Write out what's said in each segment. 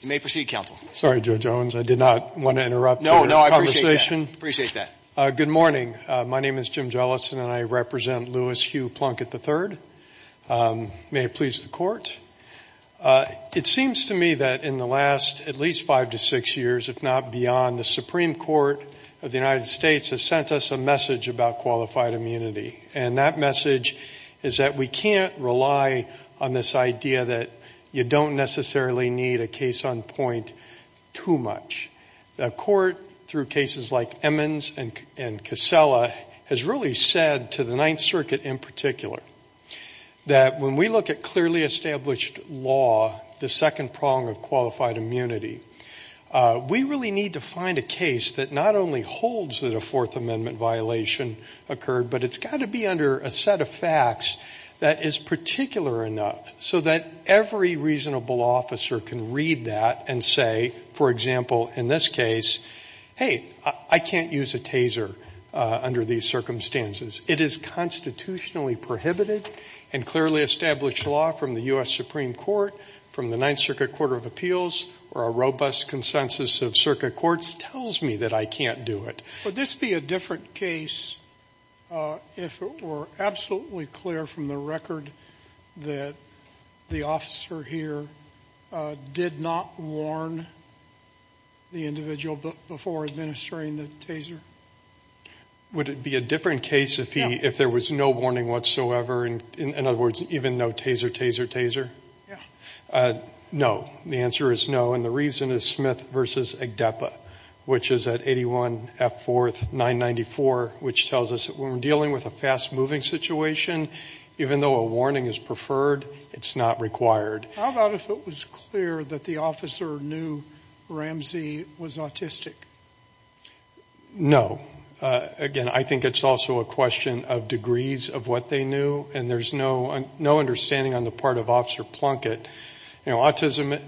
You may proceed counsel. Sorry, Judge Owens. I did not want to interrupt. No, no, I appreciate that. Appreciate that. Good morning. My name is Jim Jellison and I represent Lewis Hugh Plunkett III. May it please the court. It seems to me that in the last at least five to six years, if not beyond, the Supreme Court of the United States has sent us a message about qualified immunity. And that message is that we can't rely on this idea that you don't necessarily need a case on point too much. The court, through cases like Emmons and Casella, has really said to the Ninth Circuit in particular that when we look at clearly established law, the second prong of qualified immunity, we really need to find a case that not only holds that a Fourth Amendment violation occurred, but it's got to be under a set of facts that is particular enough so that every reasonable officer can read that and say, for example, in this case, hey, I can't use a taser under these circumstances. It is constitutionally prohibited. And clearly established law from the U.S. Supreme Court, from the Ninth Circuit Court of Appeals, or a robust consensus of circuit courts, tells me that I can't do it. JUSTICE SOTOMAYOR. Would this be a different case if it were absolutely clear from the record that the officer here did not warn the individual before administering the taser? JUDGE LEBEN. Would it be a different case if he, if there was no warning whatsoever, and in other words, even no taser, taser, taser? JUSTICE SOTOMAYOR. Yeah. The answer is no, and the reason is Smith v. Agdeppa, which is at 81 F. 4th, 994, which tells us that when we're dealing with a fast-moving situation, even though a warning is preferred, it's not required. JUSTICE SOTOMAYOR. How about if it was clear that the officer knew Ramsey was autistic? JUDGE LEBEN. No. Again, I think it's also a question of degrees of what they knew, and there's no understanding on the part of Officer Plunkett. You know, autism,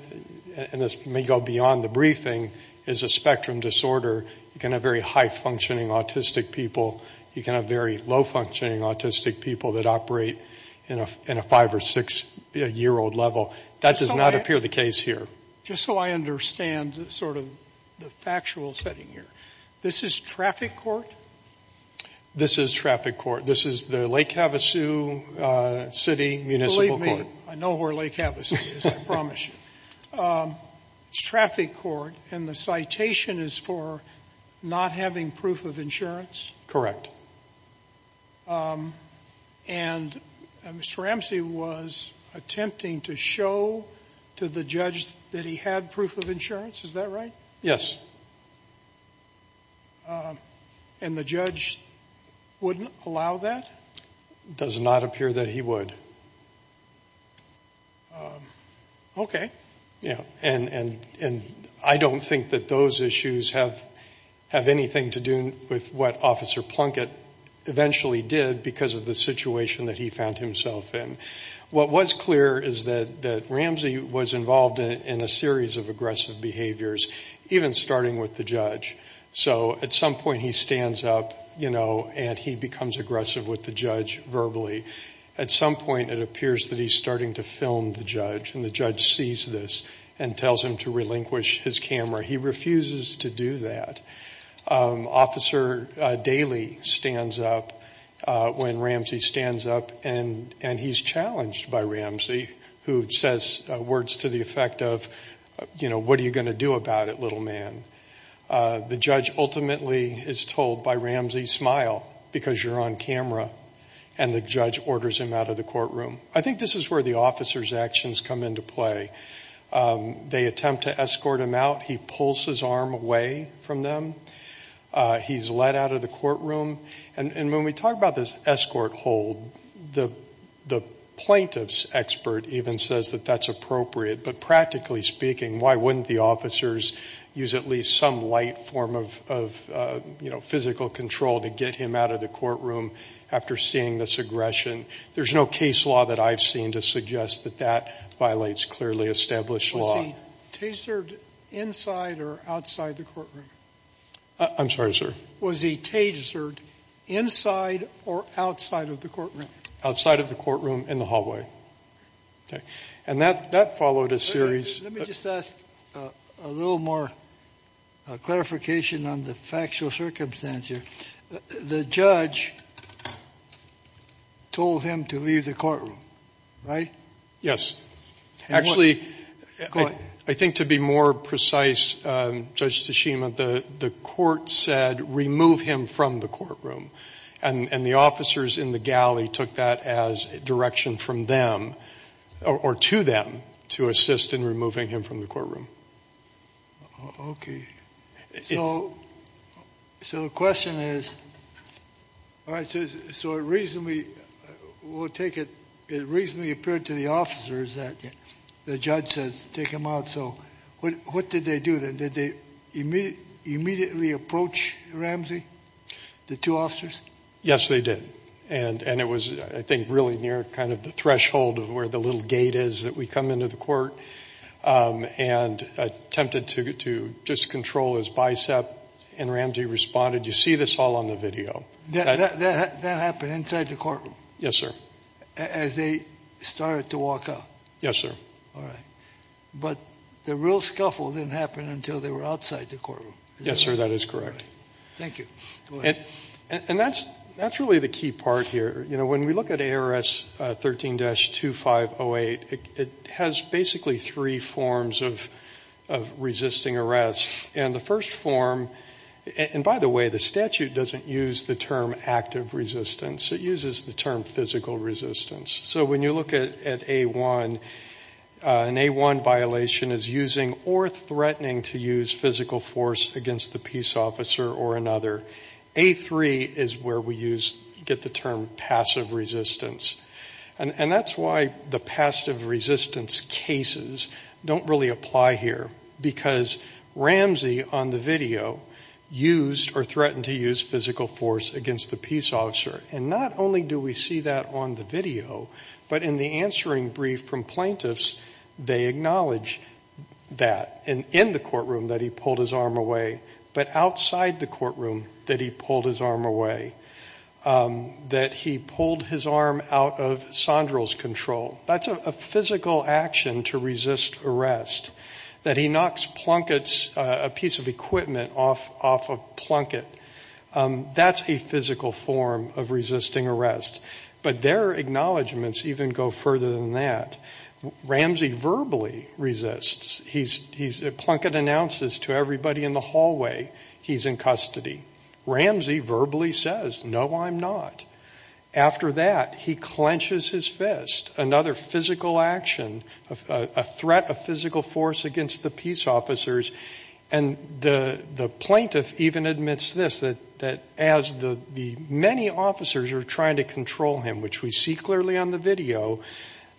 and this may go beyond the briefing, is a spectrum disorder. You can have very high-functioning autistic people. You can have very low-functioning autistic people that operate in a 5- or 6-year-old level. That does not appear the case here. JUSTICE SOTOMAYOR. Just so I understand sort of the factual setting here, this is traffic court? JUDGE LEBEN. This is traffic court. This is the Lake Havasu City Municipal Court. JUSTICE SOTOMAYOR. Believe me, I know where Lake Havasu is. I promise you. It's traffic court, and the citation is for not having proof of insurance? JUDGE LEBEN. Correct. JUSTICE SOTOMAYOR. And Mr. Ramsey was attempting to show to the judge that he had proof of insurance? Is that right? JUDGE LEBEN. Yes. JUSTICE SOTOMAYOR. And the judge wouldn't allow that? JUDGE LEBEN. It does not appear that he would. JUSTICE SOTOMAYOR. Okay. JUDGE LEBEN. And I don't think that those issues have anything to do with what Officer Plunkett eventually did because of the situation that he found himself in. What was clear is that Ramsey was involved in a series of aggressive behaviors, even starting with the judge. So at some point he stands up, you know, and he becomes aggressive with the judge verbally. At some point it appears that he's starting to film the judge, and the judge sees this and tells him to relinquish his camera. He refuses to do that. Officer Daley stands up when Ramsey stands up, and he's challenged by Ramsey, who says words to the effect of, you know, what are you going to do about it, little man? The judge ultimately is told by Ramsey, smile, because you're on camera. And the judge orders him out of the courtroom. I think this is where the officer's actions come into play. They attempt to escort him out. He pulls his arm away from them. He's let out of the courtroom. And when we talk about this escort hold, the plaintiff's expert even says that that's appropriate. But practically speaking, why wouldn't the officers use at least some light form of, you know, physical control to get him out of the courtroom after seeing this aggression? There's no case law that I've seen to suggest that that violates clearly established law. Was he tasered inside or outside the courtroom? I'm sorry, sir. Was he tasered inside or outside of the courtroom? Outside of the courtroom in the hallway. Okay. And that followed a series. Let me just ask a little more clarification on the factual circumstance here. The judge told him to leave the courtroom, right? Yes. Actually, I think to be more precise, Judge Tashima, the court said remove him from the courtroom. And the officers in the galley took that as direction from them or to them to assist in removing him from the courtroom. Okay. So the question is, all right, so it reasonably, we'll take it, it reasonably appeared to the officers that the judge said take him out. So what did they do then? Did they immediately approach Ramsey, the two officers? Yes, they did. And it was, I think, really near kind of the threshold of where the little gate is that we come into the court and attempted to just control his bicep. And Ramsey responded, you see this all on the video. That happened inside the courtroom? Yes, sir. As they started to walk out? Yes, sir. All right. But the real scuffle didn't happen until they were outside the courtroom? Yes, sir. That is correct. Thank you. Go ahead. And that's really the key part here. You know, when we look at ARS 13-2508, it has basically three forms of resisting arrest. And the first form, and by the way, the statute doesn't use the term active resistance. It uses the term physical resistance. So when you look at A-1, an A-1 violation is using or threatening to use physical force against the peace officer or another. A-3 is where we get the term passive resistance. And that's why the passive resistance cases don't really apply here. Because Ramsey, on the video, used or threatened to use physical force against the peace officer. And not only do we see that on the video, but in the answering brief from plaintiffs, they acknowledge that. And in the courtroom that he pulled his arm away, but outside the courtroom that he pulled his arm away. That he pulled his arm out of Sondral's control. That's a physical action to resist arrest. That he knocks a piece of equipment off a plunket, that's a physical form of resisting arrest. But their acknowledgements even go further than that. Ramsey verbally resists. Plunket announces to everybody in the hallway, he's in custody. Ramsey verbally says, no, I'm not. After that, he clenches his fist. Another physical action, a threat of physical force against the peace officers. And the plaintiff even admits this, that as the many officers are trying to control him, which we see clearly on the video,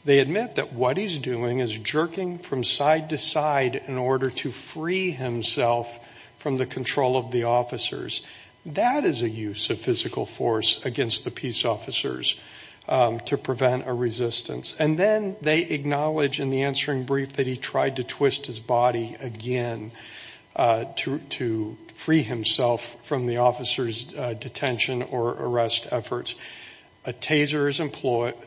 they admit that what he's doing is jerking from side to side in order to free himself from the control of the officers. That is a use of physical force against the peace officers to prevent a resistance. And then they acknowledge in the answering brief that he tried to twist his body again to free himself from the officers' detention or arrest efforts. A taser is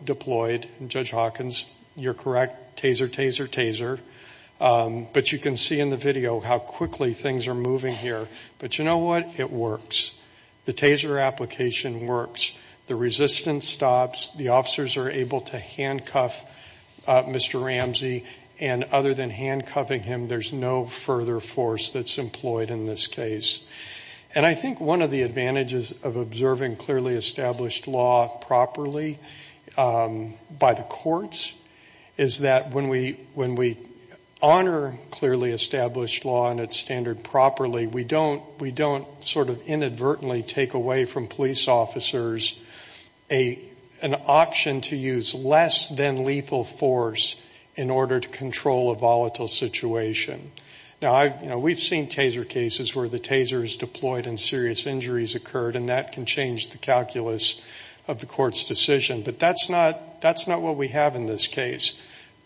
deployed. Judge Hawkins, you're correct, taser, taser, taser. But you can see in the video how quickly things are moving here. But you know what? It works. The taser application works. The resistance stops. The officers are able to handcuff Mr. Ramsey. And other than handcuffing him, there's no further force that's employed in this case. And I think one of the advantages of observing clearly established law properly by the courts is that when we honor clearly established law and its standard properly, we don't sort of inadvertently take away from police officers an option to use less than lethal force in order to control a volatile situation. Now, we've seen taser cases where the taser is deployed and serious injuries occurred, and that can change the calculus of the court's decision. But that's not what we have in this case.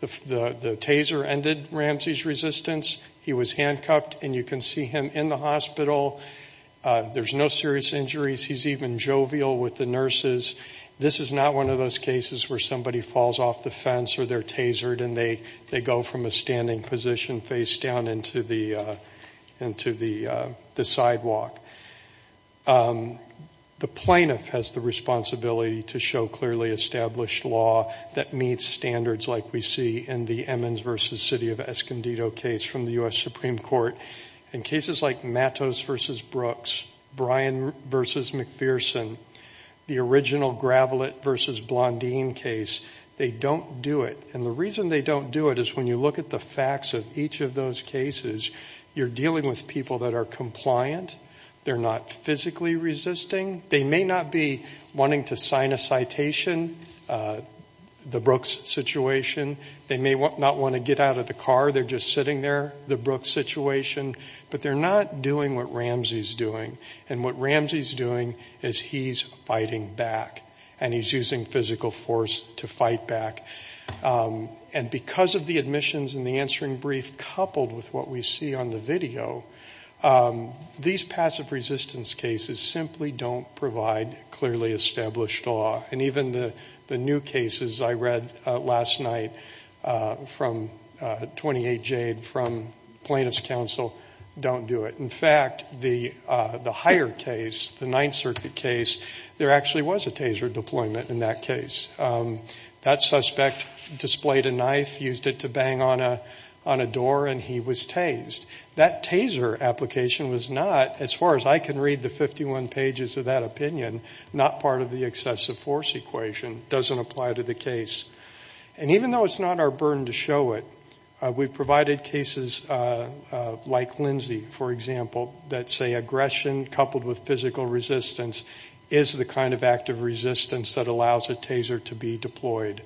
The taser ended Ramsey's resistance. He was handcuffed, and you can see him in the hospital. There's no serious injuries. He's even jovial with the nurses. This is not one of those cases where somebody falls off the fence or they're tasered and they go from a standing position face down into the sidewalk. The plaintiff has the responsibility to show clearly established law that meets standards like we see in the Emmons v. City of Escondido case from the U.S. Supreme Court. In cases like Mattos v. Brooks, Bryan v. McPherson, the original Gravelet v. Blondine case, they don't do it. And the reason they don't do it is when you look at the facts of each of those cases, you're dealing with people that are compliant. They're not physically resisting. They may not be wanting to sign a citation, the Brooks situation. They may not want to get out of the car. They're just sitting there, the Brooks situation. But they're not doing what Ramsey's doing. And what Ramsey's doing is he's fighting back. And he's using physical force to fight back. And because of the admissions and the answering brief coupled with what we see on the video, these passive resistance cases simply don't provide clearly established law. And even the new cases I read last night from 28 Jade from Plaintiff's Counsel don't do it. In fact, the higher case, the Ninth Circuit case, there actually was a taser deployment in that case. That suspect displayed a knife, used it to that opinion, not part of the excessive force equation, doesn't apply to the case. And even though it's not our burden to show it, we've provided cases like Lindsay, for example, that say aggression coupled with physical resistance is the kind of active resistance that allows a taser to be deployed.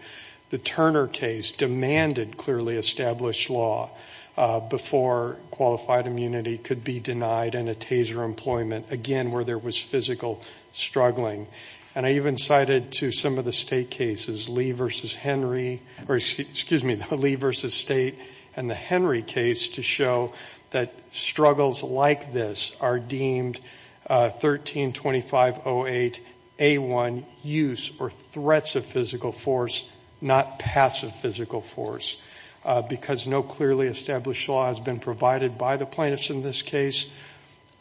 The Turner case demanded clearly established law before qualified immunity could be denied and a taser deployment, again, where there was physical struggling. And I even cited to some of the state cases, Lee v. Henry, or excuse me, Lee v. State and the Henry case to show that struggles like this are deemed 132508A1 use or threats of physical force, not passive physical force. Because no clearly established law has been provided by the plaintiffs in this case,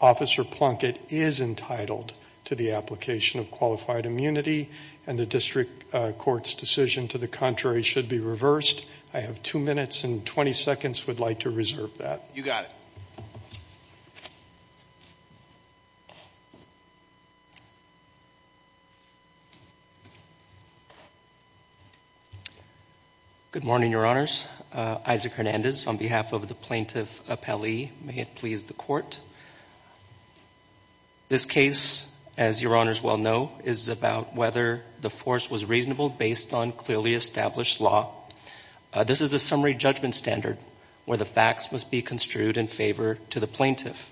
Officer Plunkett is entitled to the application of qualified immunity and the district court's decision to the contrary should be I have two minutes and 20 seconds, would like to reserve that. You got it. Good morning, Your Honors. Isaac Hernandez on behalf of the plaintiff appellee. May it please the court. This case, as Your Honors well know, is about whether the force was reasonable based on clearly established law. This is a summary judgment standard where the facts must be construed in favor to the plaintiff.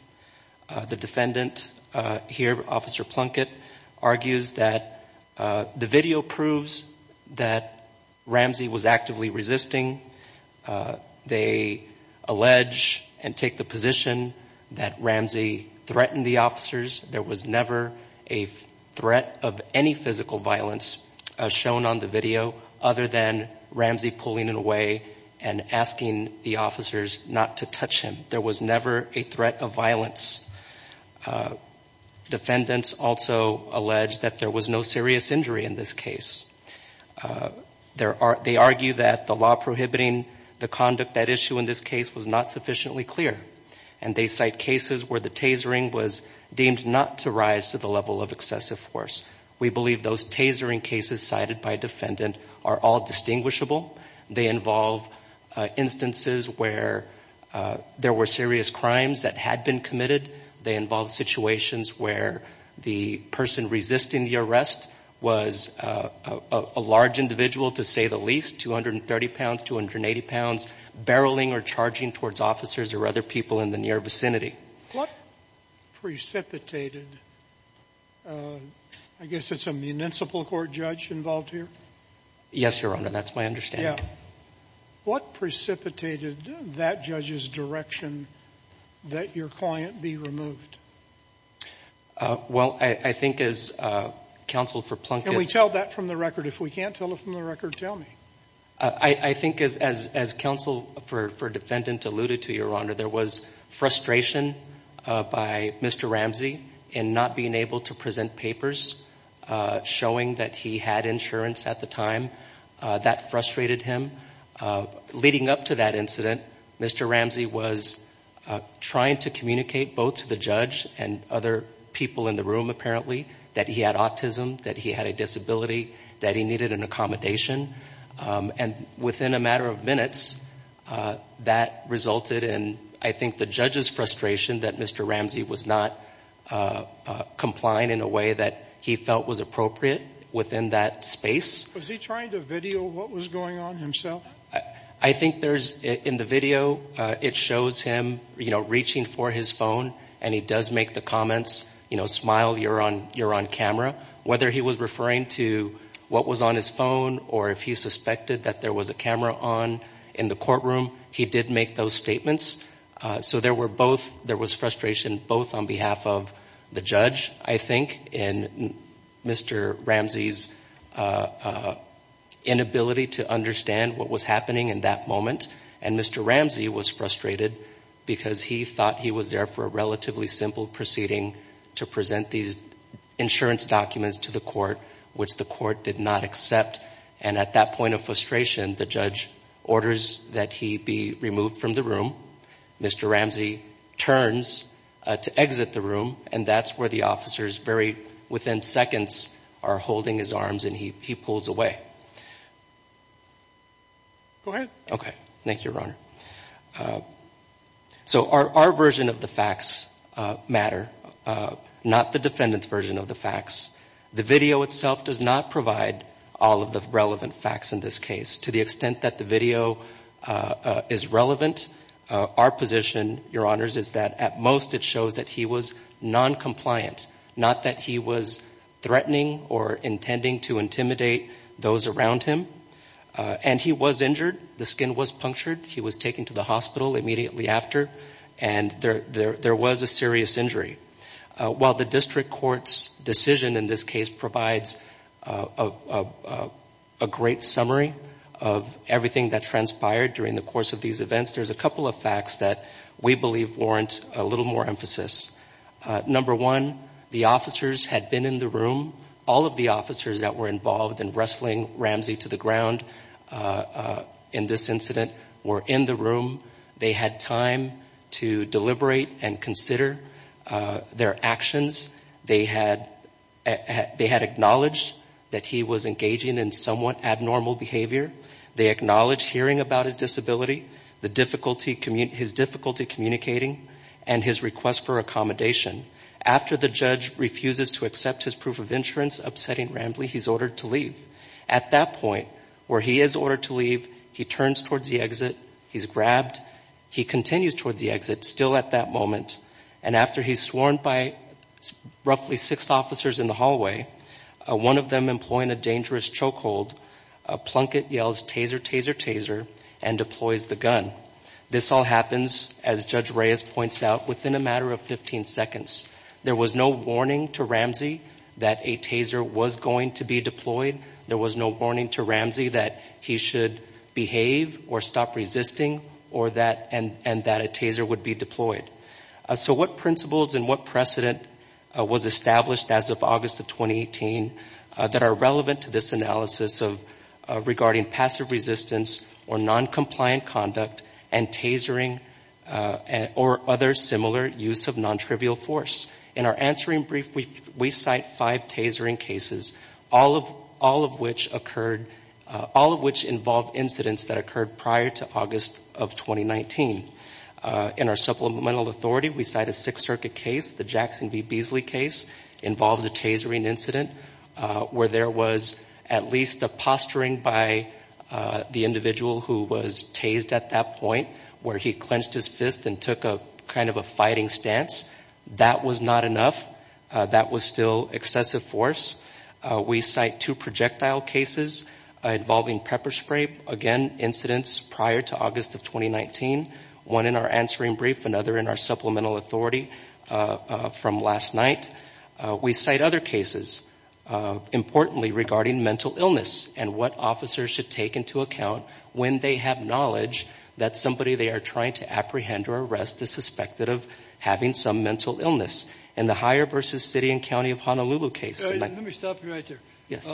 The defendant here, Officer Plunkett, argues that the video proves that Ramsey was actively resisting. They allege and take the position that Ramsey was not resisting the video other than Ramsey pulling it away and asking the officers not to touch him. There was never a threat of violence. Defendants also allege that there was no serious injury in this case. They argue that the law prohibiting the conduct at issue in this case was not sufficiently clear. And they cite cases where the tasering was deemed not to rise to the are all distinguishable. They involve instances where there were serious crimes that had been committed. They involve situations where the person resisting the arrest was a large individual to say the least, 230 pounds, 280 pounds, barreling or charging towards officers or other people in the near vicinity. What precipitated, I guess it's a municipal court involved here? Yes, Your Honor, that's my understanding. Yeah. What precipitated that judge's direction that your client be removed? Well, I think as counsel for Plunkett Can we tell that from the record? If we can't tell it from the record, tell me. I think as counsel for defendant alluded to, Your Honor, there was frustration by Mr. Ramsey in not being able to present papers showing that he had insurance at the time. That frustrated him. Leading up to that incident, Mr. Ramsey was trying to communicate both to the judge and other people in the room, apparently, that he had autism, that he had a disability, that he needed an accommodation. And within a matter of minutes, that resulted in, I think, the judge's frustration that Mr. Ramsey was not complying in a way that he felt was appropriate within that space. Was he trying to video what was going on himself? I think there's, in the video, it shows him reaching for his phone and he does make the comments, you know, smile, you're on camera. Whether he was referring to what was on his phone or if he suspected that there was a camera on in the courtroom, he did make those statements. So there were both, there was frustration both on behalf of the judge, I think, and Mr. Ramsey's inability to understand what was happening in that moment. And Mr. Ramsey was frustrated because he thought he was there for a relatively simple proceeding to present these insurance documents to the court, which the court did not accept. And at that point of frustration, the judge orders that he be removed from the room. Mr. Ramsey turns to exit the room, and that's where the officers very within seconds are holding his arms and he pulls away. Go ahead. Okay. Thank you, Your Honor. So our version of the facts matter, not the defendant's version of the facts. The video itself does not provide all of the relevant facts in this case. To the extent that the video is relevant, our position, Your Honors, is that at most it shows that he was noncompliant, not that he was threatening or intending to intimidate those around him. And he was injured. The skin was punctured. He was taken to the immediately after, and there was a serious injury. While the district court's decision in this case provides a great summary of everything that transpired during the course of these events, there's a couple of facts that we believe warrant a little more emphasis. Number one, the officers had been in the room. All of the officers that were involved in wrestling Ramsey to the ground in this incident were in the room. They had time to deliberate and consider their actions. They had acknowledged that he was engaging in somewhat abnormal behavior. They acknowledged hearing about his disability, his difficulty communicating, and his request for accommodation. After the judge refuses to accept his proof of insurance upsetting Ramsey, he's ordered to leave. At that point, where he is ordered to leave, he turns towards the exit. He's grabbed. He continues towards the exit, still at that moment. And after he's sworn by roughly six officers in the hallway, one of them employing a dangerous chokehold, Plunkett yells, Taser, Taser, Taser, and deploys the gun. This all happens, as Judge Reyes points out, within a matter of 15 seconds. There was no warning to Ramsey that a taser was going to be deployed. There was no warning to Ramsey that he should behave or stop resisting and that a taser would be deployed. So what principles and what precedent was established as of August of 2018 that are relevant to this analysis regarding passive resistance or noncompliant conduct and tasering or other similar use of nontrivial force? In our answering brief, we cite five tasering cases, all of which occurred, all of which involve incidents that occurred prior to August of 2019. In our supplemental authority, we cite a Sixth Circuit case, the Jackson v. Beasley case, involves a tasering incident where there was at least a posturing by the individual who was tased at that point where he clenched his fist and took a kind of a fighting stance. That was not enough. That was still excessive force. We cite two projectile cases involving pepper spray, again, incidents prior to August of 2019, one in our answering brief, another in our supplemental authority from last night. We cite other cases, importantly regarding mental illness and what officers should take into account when they have knowledge that somebody they are trying to apprehend or arrest is suspected of having some mental illness. In the Higher v. City and County of Honolulu case. Let me stop you right there. Yes.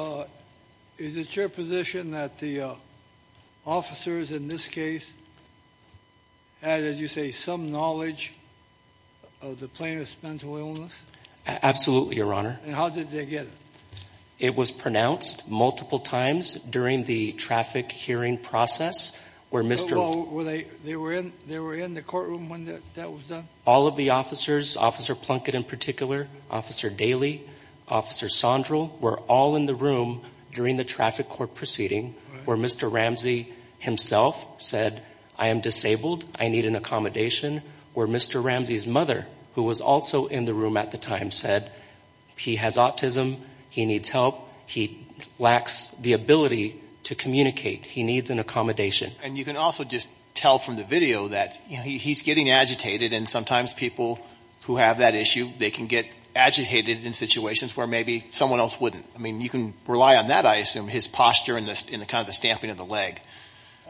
Is it your position that the officers in this case had, as you say, some knowledge of the plaintiff's mental illness? Absolutely, Your Honor. And how did they get it? It was pronounced multiple times during the traffic hearing process, where Mr. They were in the courtroom when that was done? All of the officers, Officer Plunkett in particular, Officer Daley, Officer Sondral, were all in the room during the traffic court proceeding, where Mr. Ramsey himself said, I am disabled. I need an accommodation. Where Mr. Ramsey's mother, who was also in the room at the time, said, he has autism. He needs help. He lacks the ability to communicate. He needs an accommodation. And you can also just tell from the video that he's getting agitated. And sometimes people who have that issue, they can get agitated in situations where maybe someone else wouldn't. I mean, you can rely on that, I assume, his posture in this in the kind of stamping of the leg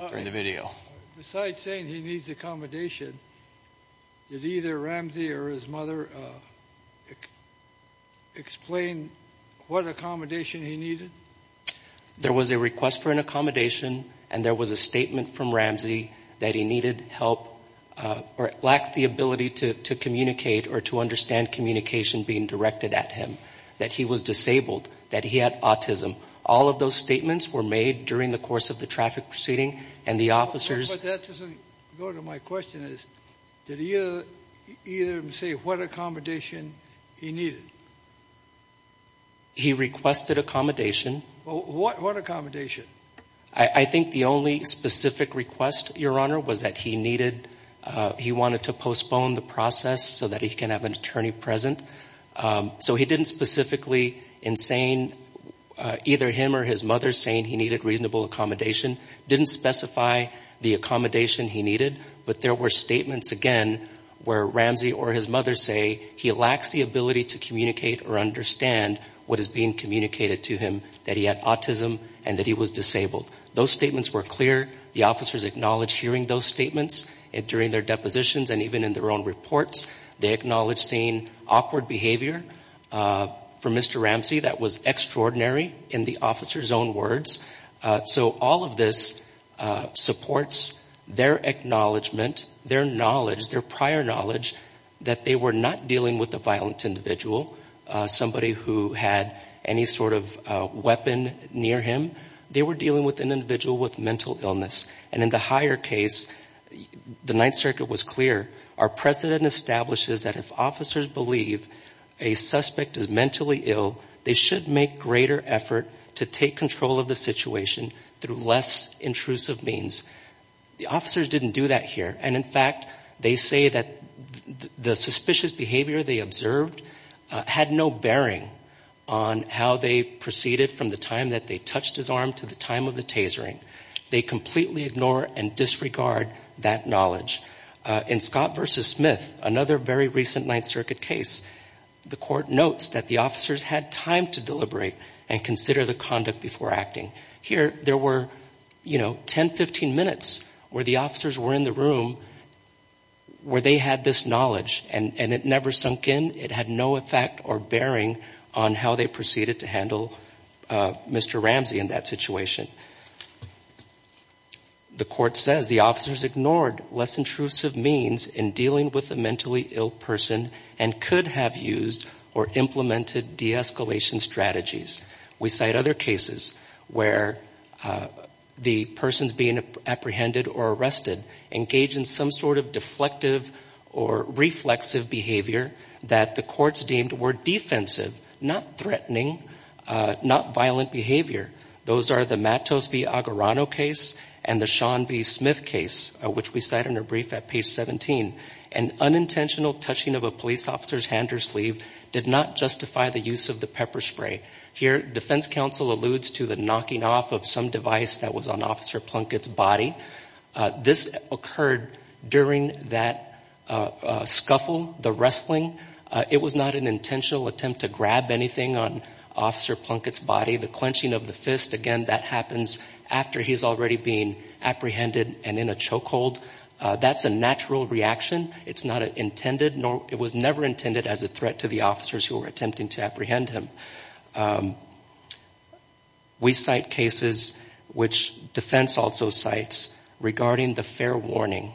during the video. Besides saying he needs accommodation, did either Ramsey or his mother explain what accommodation he needed? There was a request for an accommodation and there was a statement from Ramsey that he needed help or lacked the ability to communicate or to understand communication being directed at him, that he was disabled, that he had autism. All of those statements were made during the course of the traffic proceeding and the officers. But that doesn't go to my question. Did he either say what accommodation he needed? He requested accommodation. What accommodation? I think the only specific request, Your Honor, was that he needed, he wanted to postpone the process so that he can have an attorney present. So he didn't specifically in saying, either him or his mother saying he needed reasonable accommodation, didn't specify the accommodation he needed. But there were statements, again, where Ramsey or his mother say he lacks the ability to communicate or understand what is being communicated to him, that he had autism and that he was disabled. Those statements were clear. The officers acknowledged hearing those statements during their depositions and even in their own reports. They acknowledged seeing awkward behavior from Mr. Ramsey that was extraordinary in the officer's own words. So all of this supports their acknowledgement, their knowledge, their prior knowledge that they were not dealing with a violent individual, somebody who had any sort of weapon near him. They were dealing with an individual with mental illness. And in the higher case, the Ninth Circuit was clear. Our precedent establishes that if officers believe a suspect is mentally ill, they should make greater effort to take control of the situation through less intrusive means. The officers didn't do that here. And in fact, they say that the suspicious behavior they observed had no bearing on how they proceeded from the time that they touched his arm to the time of the tasering. They completely ignore and disregard that knowledge. In Scott v. Smith, another very recent Ninth Circuit case, the court notes that the officers had time to deliberate and consider the conduct before acting. Here, there were, you know, 10, 15 minutes where the officers were in the room where they had this knowledge and it never sunk in. It had no effect or bearing on how they proceeded to handle Mr. Ramsey in that situation. The court says the officers ignored less intrusive means in dealing with a mentally ill person and could have used or implemented de-escalation strategies. We cite other cases where the persons being apprehended or arrested engage in some sort of deflective or reflexive behavior that the courts deemed were defensive, not threatening, not violent behavior. Those are the Scott v. Agorano case and the Sean v. Smith case, which we cite in a brief at page 17. An unintentional touching of a police officer's hand or sleeve did not justify the use of the pepper spray. Here, defense counsel alludes to the knocking off of some device that was on Officer Plunkett's body. This occurred during that scuffle, the wrestling. It was not an intentional attempt to grab anything on Officer Plunkett's body. The clenching of the fist, again, that happens after he's already been apprehended and in a chokehold. That's a natural reaction. It's not intended. It was never intended as a threat to the officers who were attempting to apprehend him. We cite cases, which defense also cites, regarding the fair warning.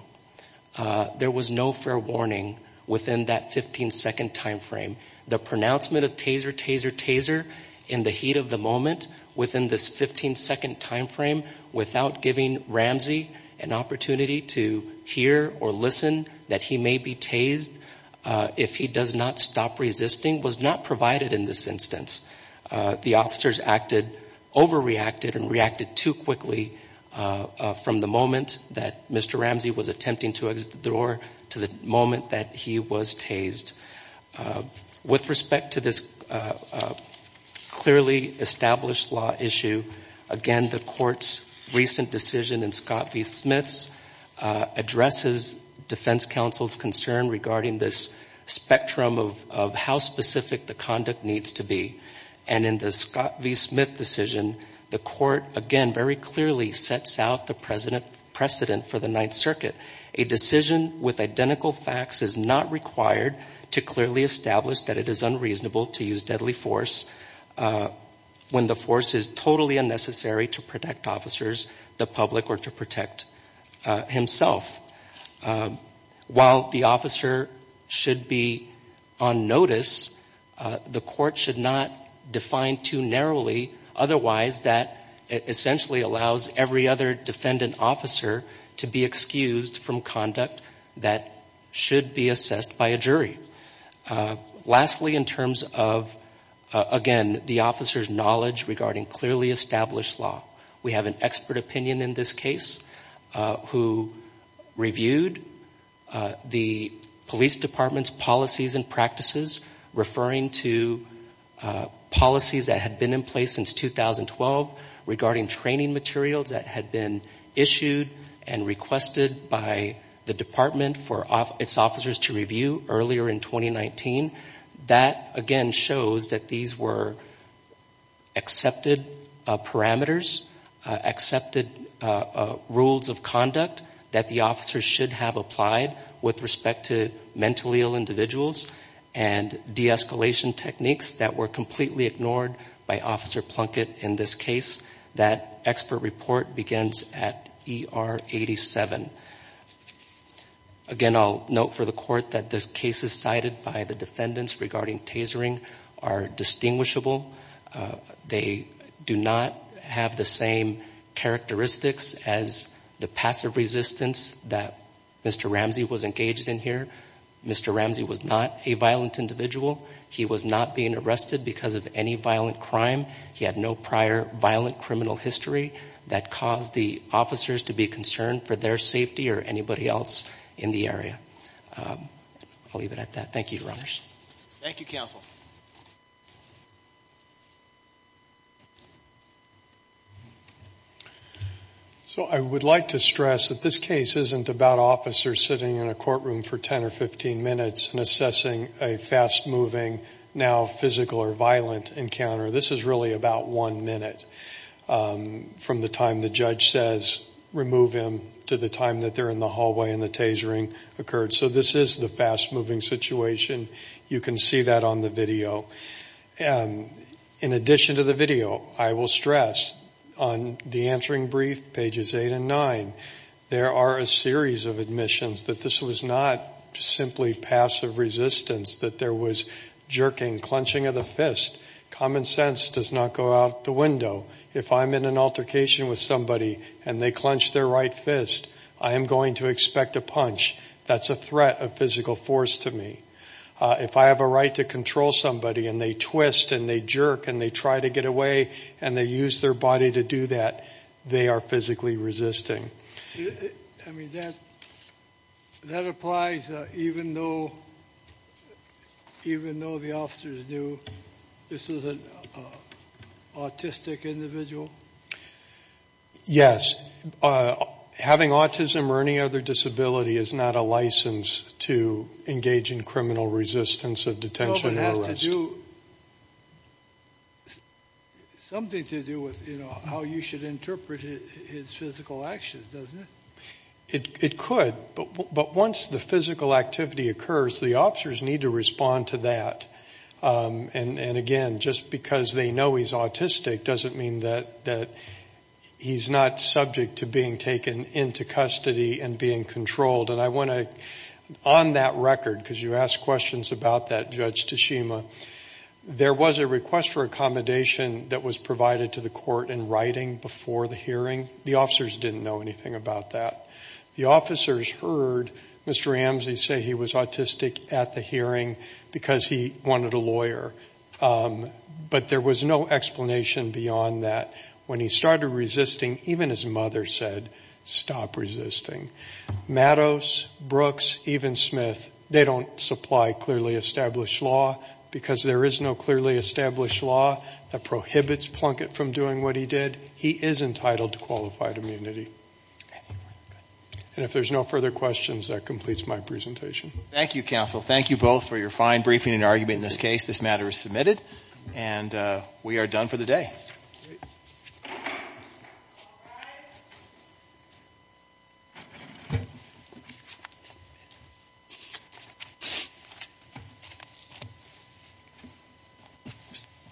There was no fair warning within that 15-second time frame. The pronouncement of taser, taser, taser in the heat of the moment within this 15-second time frame without giving Ramsey an opportunity to hear or listen that he may be tased if he does not stop resisting was not provided in this instance. The officers acted, overreacted and reacted too quickly from the moment that Mr. Ramsey was attempting to withdraw to the moment that he was tased. With respect to this clearly established law issue, again, the Court's recent decision in Scott v. Smith's addresses defense counsel's concern regarding this spectrum of how specific the conduct needs to be. And in the Scott v. Smith decision, the Court, again, very clearly sets out the precedent for the Ninth Circuit. A decision with identical facts is not required to clearly establish that it is unreasonable to use deadly force when the force is totally unnecessary to protect officers, the public or to protect himself. While the officer should be on notice, the Court should not define too narrowly otherwise that essentially allows every other defendant officer to be excused from conduct that should be assessed by a jury. Lastly, in terms of, again, the officer's knowledge regarding clearly established law, we have an expert opinion in this case who reviewed the police department's and practices, referring to policies that had been in place since 2012 regarding training materials that had been issued and requested by the department for its officers to review earlier in 2019. That, again, shows that these were accepted parameters, accepted rules of conduct that the officers should have applied with respect to mentally ill individuals and de-escalation techniques that were completely ignored by Officer Plunkett in this case. That expert report begins at ER 87. Again, I'll note for the Court that the cases cited by the defendants regarding tasering are distinguishable. They do not have the same characteristics as the passive resistance that Mr. Ramsey was engaged in here. Mr. Ramsey was not a violent individual. He was not being arrested because of any violent crime. He had no prior violent criminal history that caused the officers to be concerned for their safety or anybody else in the area. I'll leave it at that. Thank you, Your Honors. Thank you, Counsel. So, I would like to stress that this case isn't about officers sitting in a courtroom for 10 or 15 minutes and assessing a fast-moving, now physical or violent, encounter. This is really about one minute from the time the judge says, remove him, to the time that they're in the hallway and the tasering occurred. So, this is the fast-moving situation. You can see that on the video. In addition to the video, I will stress on the answering brief, pages 8 and 9, there are a series of admissions that this was not simply passive resistance, that there was jerking, clenching of the fist. Common sense does not go out the window. If I'm in an altercation with somebody and they clench their right fist, I am going to expect a punch. That's a threat of they twist and they jerk and they try to get away and they use their body to do that. They are physically resisting. That applies even though the officers knew this was an autistic individual? Yes. Having autism or any other disability is not a license to engage in criminal resistance of detention or arrest. Something to do with how you should interpret his physical actions, doesn't it? It could, but once the physical activity occurs, the officers need to respond to that. Again, just because they know he's autistic doesn't mean that he's not subject to being taken into custody and being controlled. I want to, on that record, because you asked questions about that, Judge Tashima, there was a request for accommodation that was provided to the court in writing before the hearing. The officers didn't know anything about that. The officers heard Mr. Ramsey say he was autistic at the hearing because he wanted a lawyer, but there was no explanation beyond that. When he started resisting, even his mother said, stop resisting. Mattos, Brooks, even Smith, they don't supply clearly established law because there is no clearly established law that prohibits Plunkett from doing what he did. He is entitled to qualified immunity. And if there's no further questions, that completes my presentation. Thank you, counsel. Thank you both for your fine briefing and argument in this case. This matter is submitted, and we are done for the day.